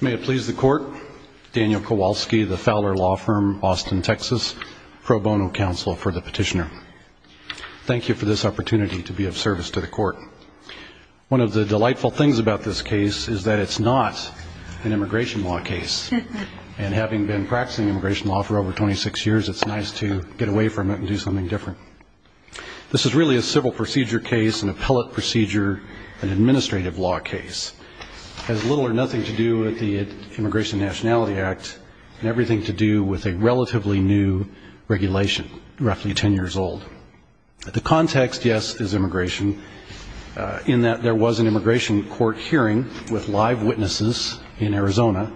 May it please the court, Daniel Kowalski, the Fowler Law Firm, Austin, Texas, pro bono counsel for the petitioner. Thank you for this opportunity to be of service to the court. One of the delightful things about this case is that it's not an immigration law case. And having been practicing immigration law for over 26 years, it's nice to get away from it and do something different. This is really a civil procedure case, an appellate procedure, an administrative law case. It has little or nothing to do with the Immigration Nationality Act and everything to do with a relatively new regulation, roughly 10 years old. The context, yes, is immigration in that there was an immigration court hearing with live witnesses in Arizona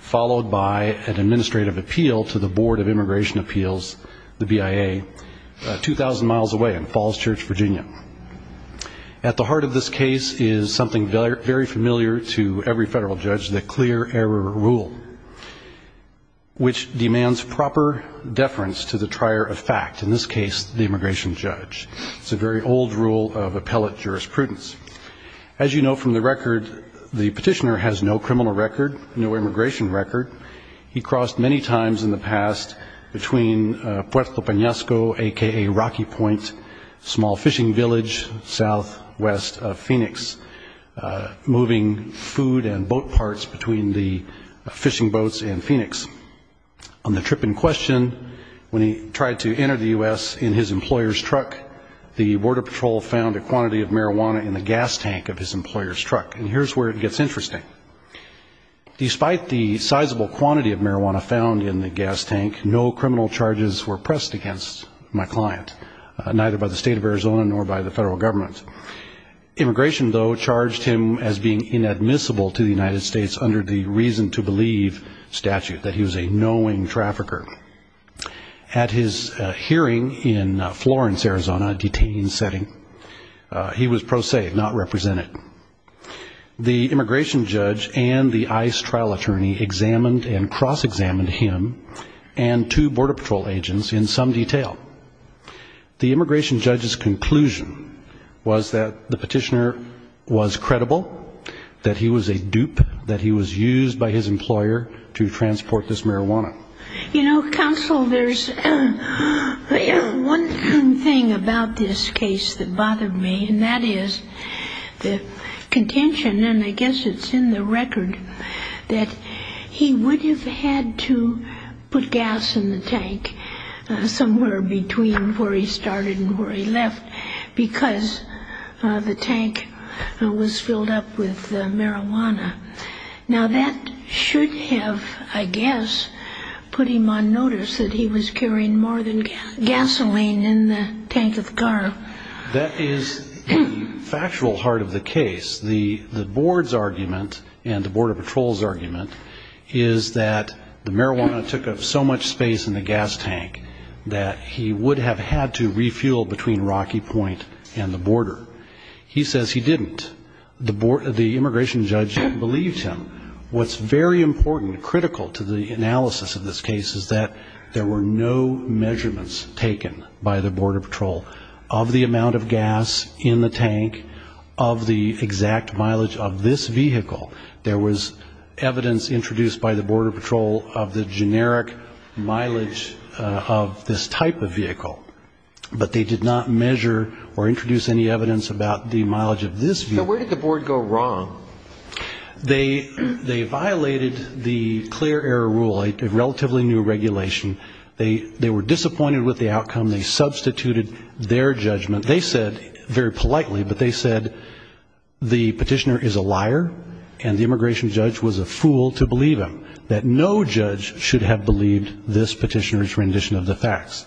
followed by an administrative appeal to the Board of Immigration Appeals, the BIA, 2,000 miles away in Falls Church, Virginia. At the heart of this case is something very familiar to every federal judge, the clear error rule, which demands proper deference to the trier of fact, in this case, the immigration judge. It's a very old rule of appellate jurisprudence. As you know from the record, the petitioner has no criminal record, no immigration record. He crossed many times in the past between Puerto Penasco, a.k.a. Rocky Point, a small fishing village southwest of Phoenix, moving food and boat parts between the fishing boats in Phoenix. On the trip in question, when he tried to enter the US in his employer's truck, the Border Patrol found a quantity of marijuana in the gas tank of his employer's truck. And here's where it gets interesting. Despite the sizable quantity of marijuana found in the gas tank, no criminal charges were pressed against my client, neither by the state of Arizona nor by the federal government. Immigration, though, charged him as being inadmissible to the United States under the reason-to-believe statute, that he was a knowing trafficker. At his hearing in Florence, Arizona, a detained setting, he was pro se, not represented. The immigration judge and the ICE trial attorney examined and cross-examined him and two Border Patrol agents in some detail. The immigration judge's conclusion was that the petitioner was credible, that he was a dupe, that he was used by his employer to transport this marijuana. You know, counsel, there's one thing about this case that bothered me, and that is the contention, and I guess it's in the record, that he would have had to put gas in the tank somewhere between where he started and where he left, because the tank was filled up with marijuana. Now, that should have, I guess, put him on notice that he was carrying more than gasoline in the tank of the car. That is the factual heart of the case. The board's argument and the Border Patrol's argument is that the marijuana took up so much space in the gas tank that he would have had to refuel between Rocky Point and the border. He says he didn't. The immigration judge believed him. What's very important and critical to the analysis of this case is that there were no measurements taken by the Border Patrol of the amount of gas in the tank of the exact mileage of this vehicle. There was evidence introduced by the Border Patrol of the generic mileage of this type of vehicle, but they did not measure or introduce any evidence about the mileage of this vehicle. So where did the board go wrong? They violated the clear error rule, a relatively new regulation. They were disappointed with the outcome. They substituted their judgment. They said, very politely, but they said the petitioner is a liar, and the immigration judge was a fool to believe him, that no judge should have believed this petitioner's rendition of the facts.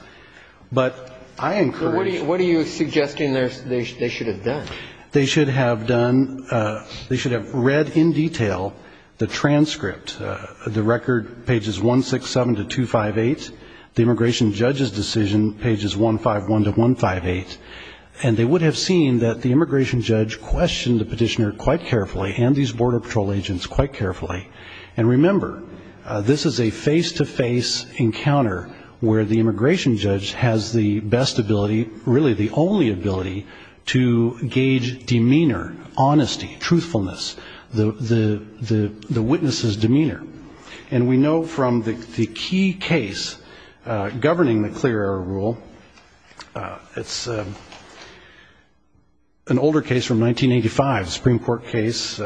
But I encourage you. So what are you suggesting they should have done? They should have done, they should have read in detail the transcript, the record pages 167 to 258, the immigration judge's decision pages 151 to 158, and they would have seen that the immigration judge questioned the petitioner quite carefully and these Border Patrol agents quite carefully. And remember, this is a face-to-face encounter where the immigration judge has the best ability, really the only ability, to gauge demeanor, honesty, truthfulness, the witness's demeanor. And we know from the key case governing the clear error rule, it's an older case from 1985, a Supreme Court case,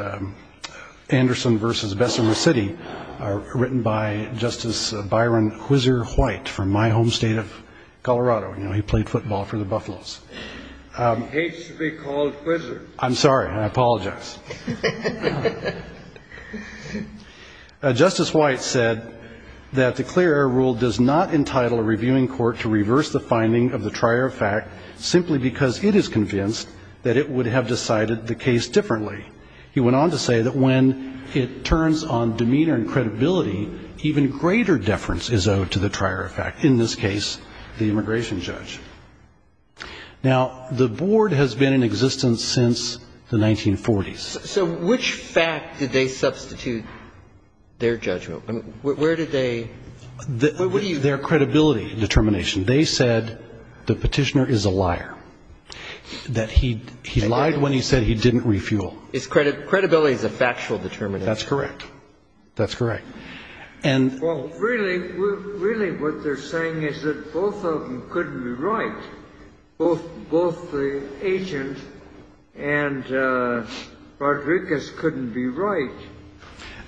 Anderson versus Bessemer City, written by Justice Byron Whizzer-White from my home state of Colorado. He played football for the Buffaloes. He hates to be called Whizzer. I'm sorry, I apologize. Now, Justice White said that the clear error rule does not entitle a reviewing court to reverse the finding of the trier of fact simply because it is convinced that it would have decided the case differently. He went on to say that when it turns on demeanor and credibility, even greater deference is owed to the trier of fact, in this case, the immigration judge. Now, the board has been in existence since the 1940s. So which fact did they substitute their judgment? Where did they? Their credibility determination. They said the petitioner is a liar, that he lied when he said he didn't refuel. Credibility is a factual determination. That's correct. That's correct. And really, what they're saying is that both of them couldn't be right, both the agent and Rodriguez couldn't be right.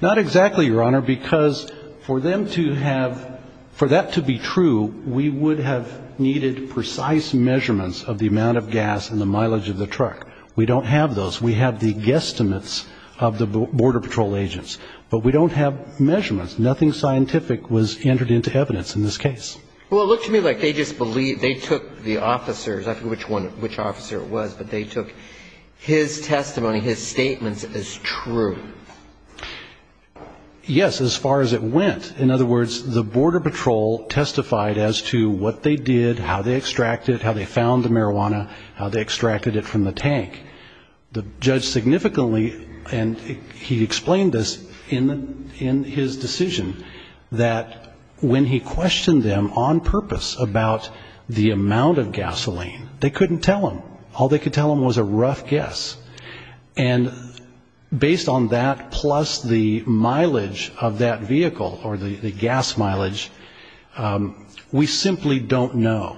Not exactly, Your Honor, because for them to have, for that to be true, we would have needed precise measurements of the amount of gas and the mileage of the truck. We don't have those. We have the guesstimates of the Border Patrol agents. But we don't have measurements. Nothing scientific was entered into evidence in this case. Well, it looked to me like they just believed, they took the officers, I forget which officer it was, but they took his testimony, his statements as true. Yes, as far as it went. In other words, the Border Patrol testified as to what they did, how they extracted, how they found the marijuana, how they extracted it from the tank. The judge significantly, and he explained this in his decision, that when he questioned them on purpose about the amount of gasoline, they couldn't tell him. All they could tell him was a rough guess. And based on that plus the mileage of that vehicle, or the gas mileage, we simply don't know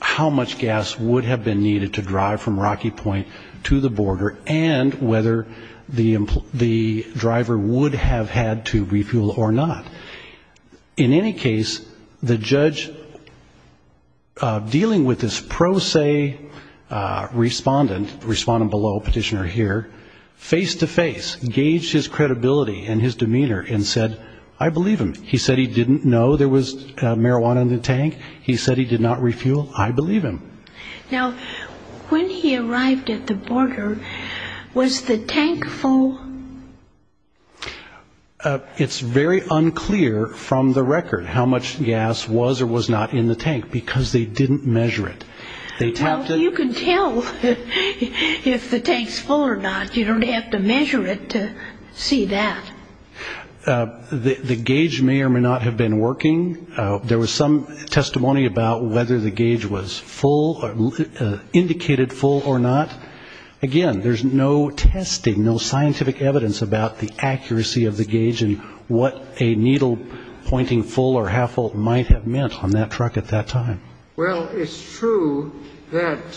how much gas would have been needed to drive from Rocky Point to the border and whether the driver would have had to refuel or not. In any case, the judge, dealing with this pro se respondent, respondent below, petitioner here, face-to-face gauged his credibility and his demeanor and said, I believe him. He said he didn't know there was marijuana in the tank. He said he did not refuel. I believe him. Now, when he arrived at the border, was the tank full? It's very unclear from the record how much gas was or was not in the tank because they didn't measure it. They tapped it. Well, you can tell if the tank's full or not. You don't have to measure it to see that. The gauge may or may not have been working. There was some testimony about whether the gauge was full, indicated full or not. Again, there's no testing, no scientific evidence about the accuracy of the gauge and what a needle pointing full or half full might have meant on that truck at that time. Well, it's true that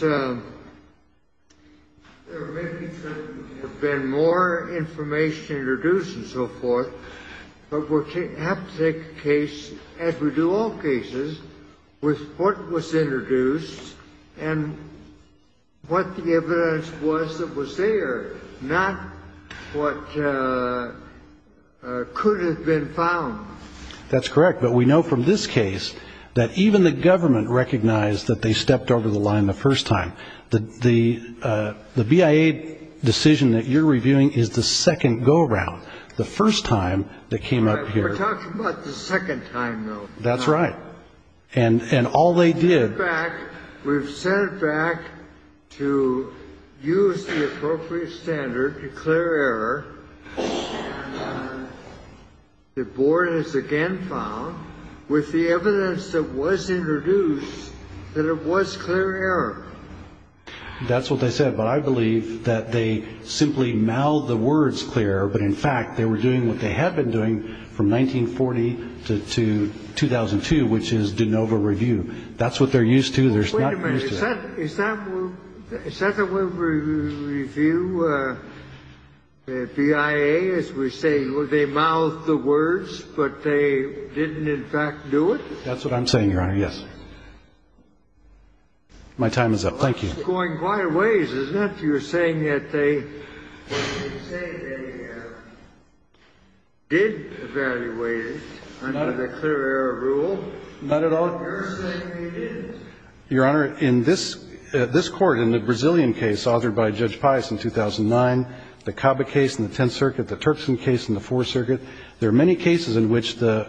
there may have been more information introduced and so forth. But we have to take a case, as we do all cases, with what was introduced and what the evidence was that what could have been found. That's correct. But we know from this case that even the government recognized that they stepped over the line the first time. The BIA decision that you're reviewing is the second go around, the first time that came up here. We're talking about the second time, though. That's right. And all they did. We've sent it back to use the appropriate standard to declare error. The board has again found, with the evidence that was introduced, that it was clear error. That's what they said. But I believe that they simply mouthed the words clear. But in fact, they were doing what they had been doing from 1940 to 2002, which is de novo review. That's what they're used to. They're not used to that. Is that the way we review the BIA, is we say they mouthed the words, but they didn't, in fact, do it? That's what I'm saying, Your Honor, yes. My time is up. Thank you. It's going quite a ways, isn't it? You're saying that they did evaluate it under the clear error rule. Not at all. You're saying they didn't. Your Honor, in this court, in the Brazilian case authored by Judge Pius in 2009, the Caba case in the Tenth Circuit, the Turkson case in the Fourth Circuit, there are many cases in which the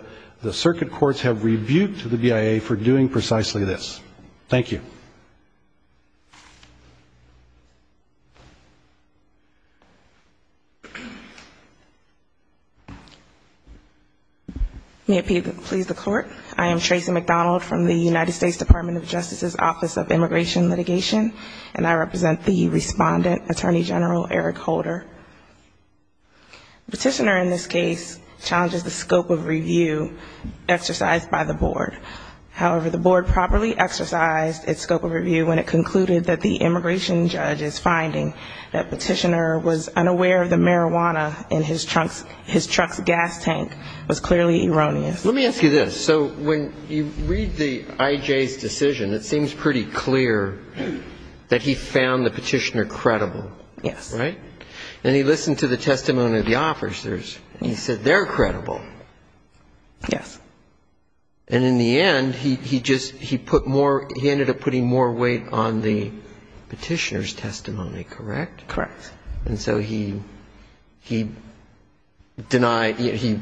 circuit courts have rebuked the BIA for doing precisely this. Thank you. May it please the Court. I am Tracy McDonald from the United States Department of Justice's Office of Immigration Litigation, and I represent the respondent, Attorney General Eric Holder. Petitioner in this case challenges the scope of review exercised by the board. However, the board properly exercised its scope of review when it concluded that the immigration judge's finding that Petitioner was unaware of the marijuana in his truck's gas tank was clearly erroneous. Let me ask you this. So when you read the IJ's decision, it seems pretty clear that he found the petitioner credible. Yes. And he listened to the testimony of the officers, and he said they're credible. Yes. And in the end, he ended up putting more weight on the petitioner's testimony, correct? Correct. And so he denied he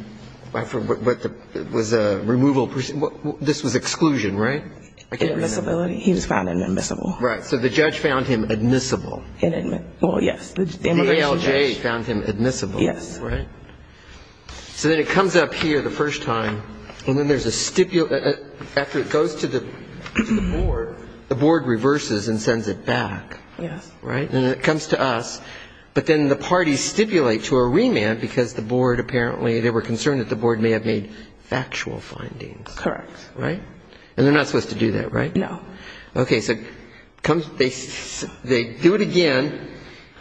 was a removal person. This was exclusion, right? I can't remember. He was found inadmissible. Right. So the judge found him admissible. Well, yes, the immigration judge. The ALJ found him admissible, right? So then it comes up here the first time, and then there's a stipulation. After it goes to the board, the board reverses and sends it back, right? And it comes to us, but then the parties stipulate to a remand because the board apparently, they were concerned that the board may have made factual findings. Correct. Right? And they're not supposed to do that, right? No. OK, so they do it again.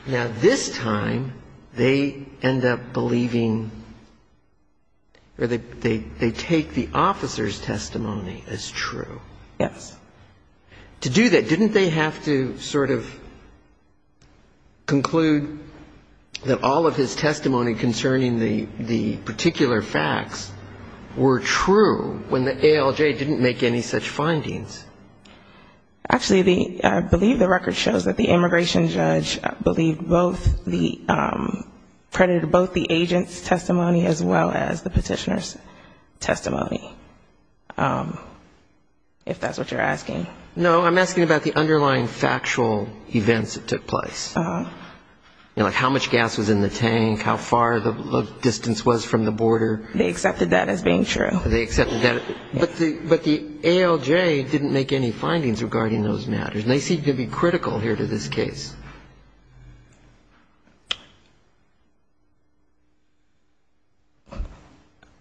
Now this time, they end up believing, or they take the officer's testimony as true. Yes. To do that, didn't they have to sort of conclude that all of his testimony concerning the particular facts were true when the ALJ didn't make any such findings? Actually, I believe the record shows that the immigration judge credited both the agent's testimony as well as the petitioner's testimony, if that's what you're asking. No, I'm asking about the underlying factual events that took place, like how much gas was in the tank, how far the distance was from the border. They accepted that as being true. They accepted that. But the ALJ didn't make any findings regarding those matters. And they seem to be critical here to this case.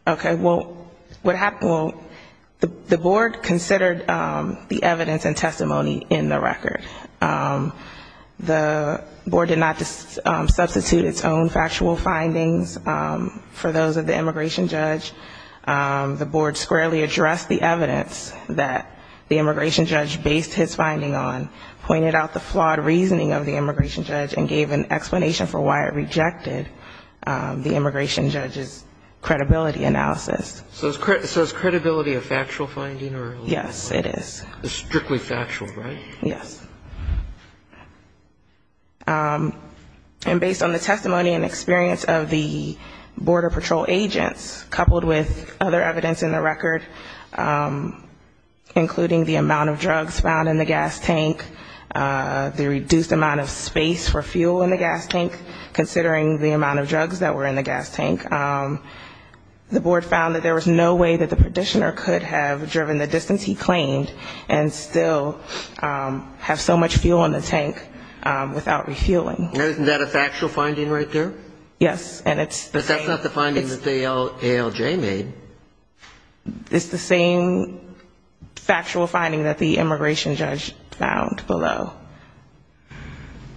OK, well, the board considered the evidence and testimony in the record. The board did not substitute its own factual findings for those of the immigration judge. The board squarely addressed the evidence that the immigration judge based his finding on, and said, OK, we're going to look at the evidence of the immigration judge, and gave an explanation for why it rejected the immigration judge's credibility analysis. So is credibility a factual finding? Yes, it is. It's strictly factual, right? Yes. And based on the testimony and experience of the border patrol agents, coupled with other evidence in the record, including the amount of drugs found in the gas tank, the reduced amount of space for fuel in the gas tank, considering the amount of drugs that were in the gas tank, the board found that there was no way that the petitioner could have driven the distance he claimed, and still have so much fuel in the tank without refueling. Isn't that a factual finding right there? Yes. And it's the same. But that's not the finding that the ALJ made. It's the same factual finding that the immigration judge found. Below.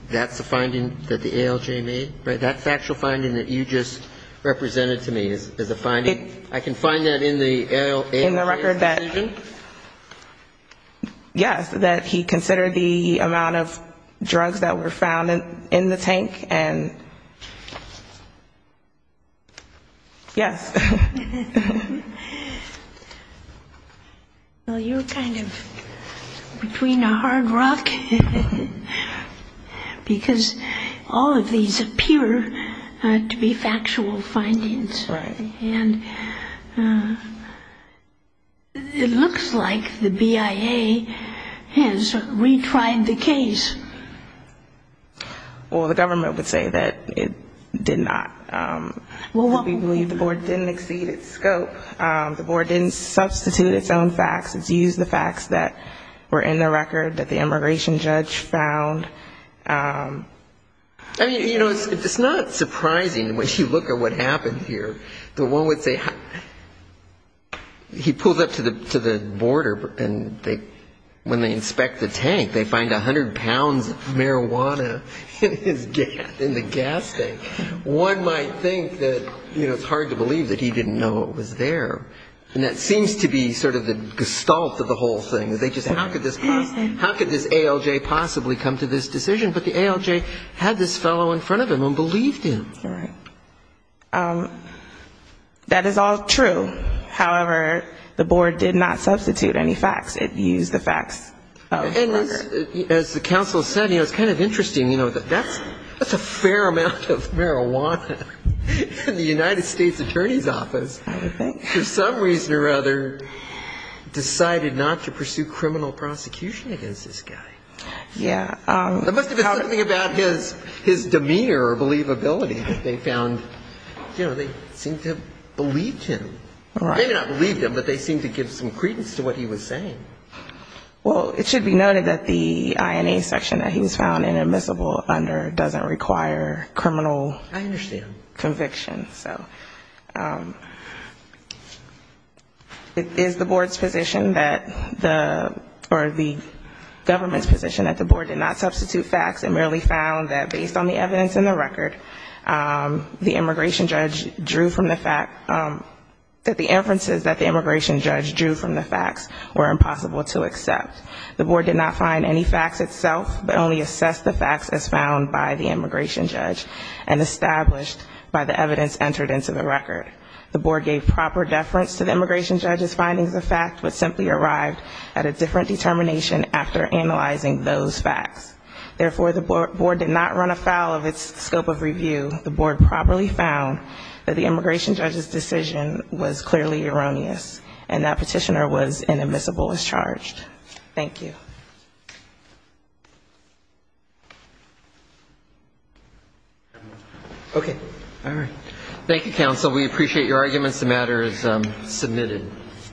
That's the finding that the ALJ made? That's the actual finding that you just represented to me as a finding? I can find that in the ALJ's decision? In the record that, yes, that he considered the amount of drugs that were found in the tank. And yes. Well, you're kind of between a hard rock. Because all of these appear to be factual findings. Right. And it looks like the BIA has retried the case. Well, the government would say that it did not. Well, what would you believe the board didn't exceed its scope. The board didn't substitute its own facts. It's used the facts that were in the record that the immigration judge found. It's not surprising, when you look at what happened here, that one would say he pulled up to the border. And when they inspect the tank, they find 100 pounds of marijuana in the gas tank. One might think that it's hard to believe that he didn't know it was there. And that seems to be sort of the gestalt of the whole thing. They just say, how could this ALJ possibly come to this decision? But the ALJ had this fellow in front of him and believed him. That is all true. However, the board did not substitute any facts. It used the facts of the record. As the counsel said, it's kind of interesting. That's a fair amount of marijuana. And the United States Attorney's Office, for some reason or other, decided not to pursue criminal prosecution against this guy. There must have been something about his demeanor or believability that they found. They seemed to have believed him. Maybe not believed him, but they seemed to give some credence to what he was saying. Well, it should be noted that the INA section that he was found inadmissible under doesn't require criminal. I understand. Conviction. So it is the board's position that the, or the government's position that the board did not substitute facts and merely found that based on the evidence in the record, the immigration judge drew from the fact that the inferences that the immigration judge drew from the facts were impossible to accept. The board did not find any facts itself, but only assessed the facts as found by the immigration judge. And established by the evidence entered into the record. The board gave proper deference to the immigration judge's findings of fact, but simply arrived at a different determination after analyzing those facts. Therefore, the board did not run afoul of its scope of review. The board properly found that the immigration judge's decision was clearly erroneous. And that petitioner was inadmissible as charged. Thank you. OK. All right. Thank you, counsel. We appreciate your arguments. The matter is submitted.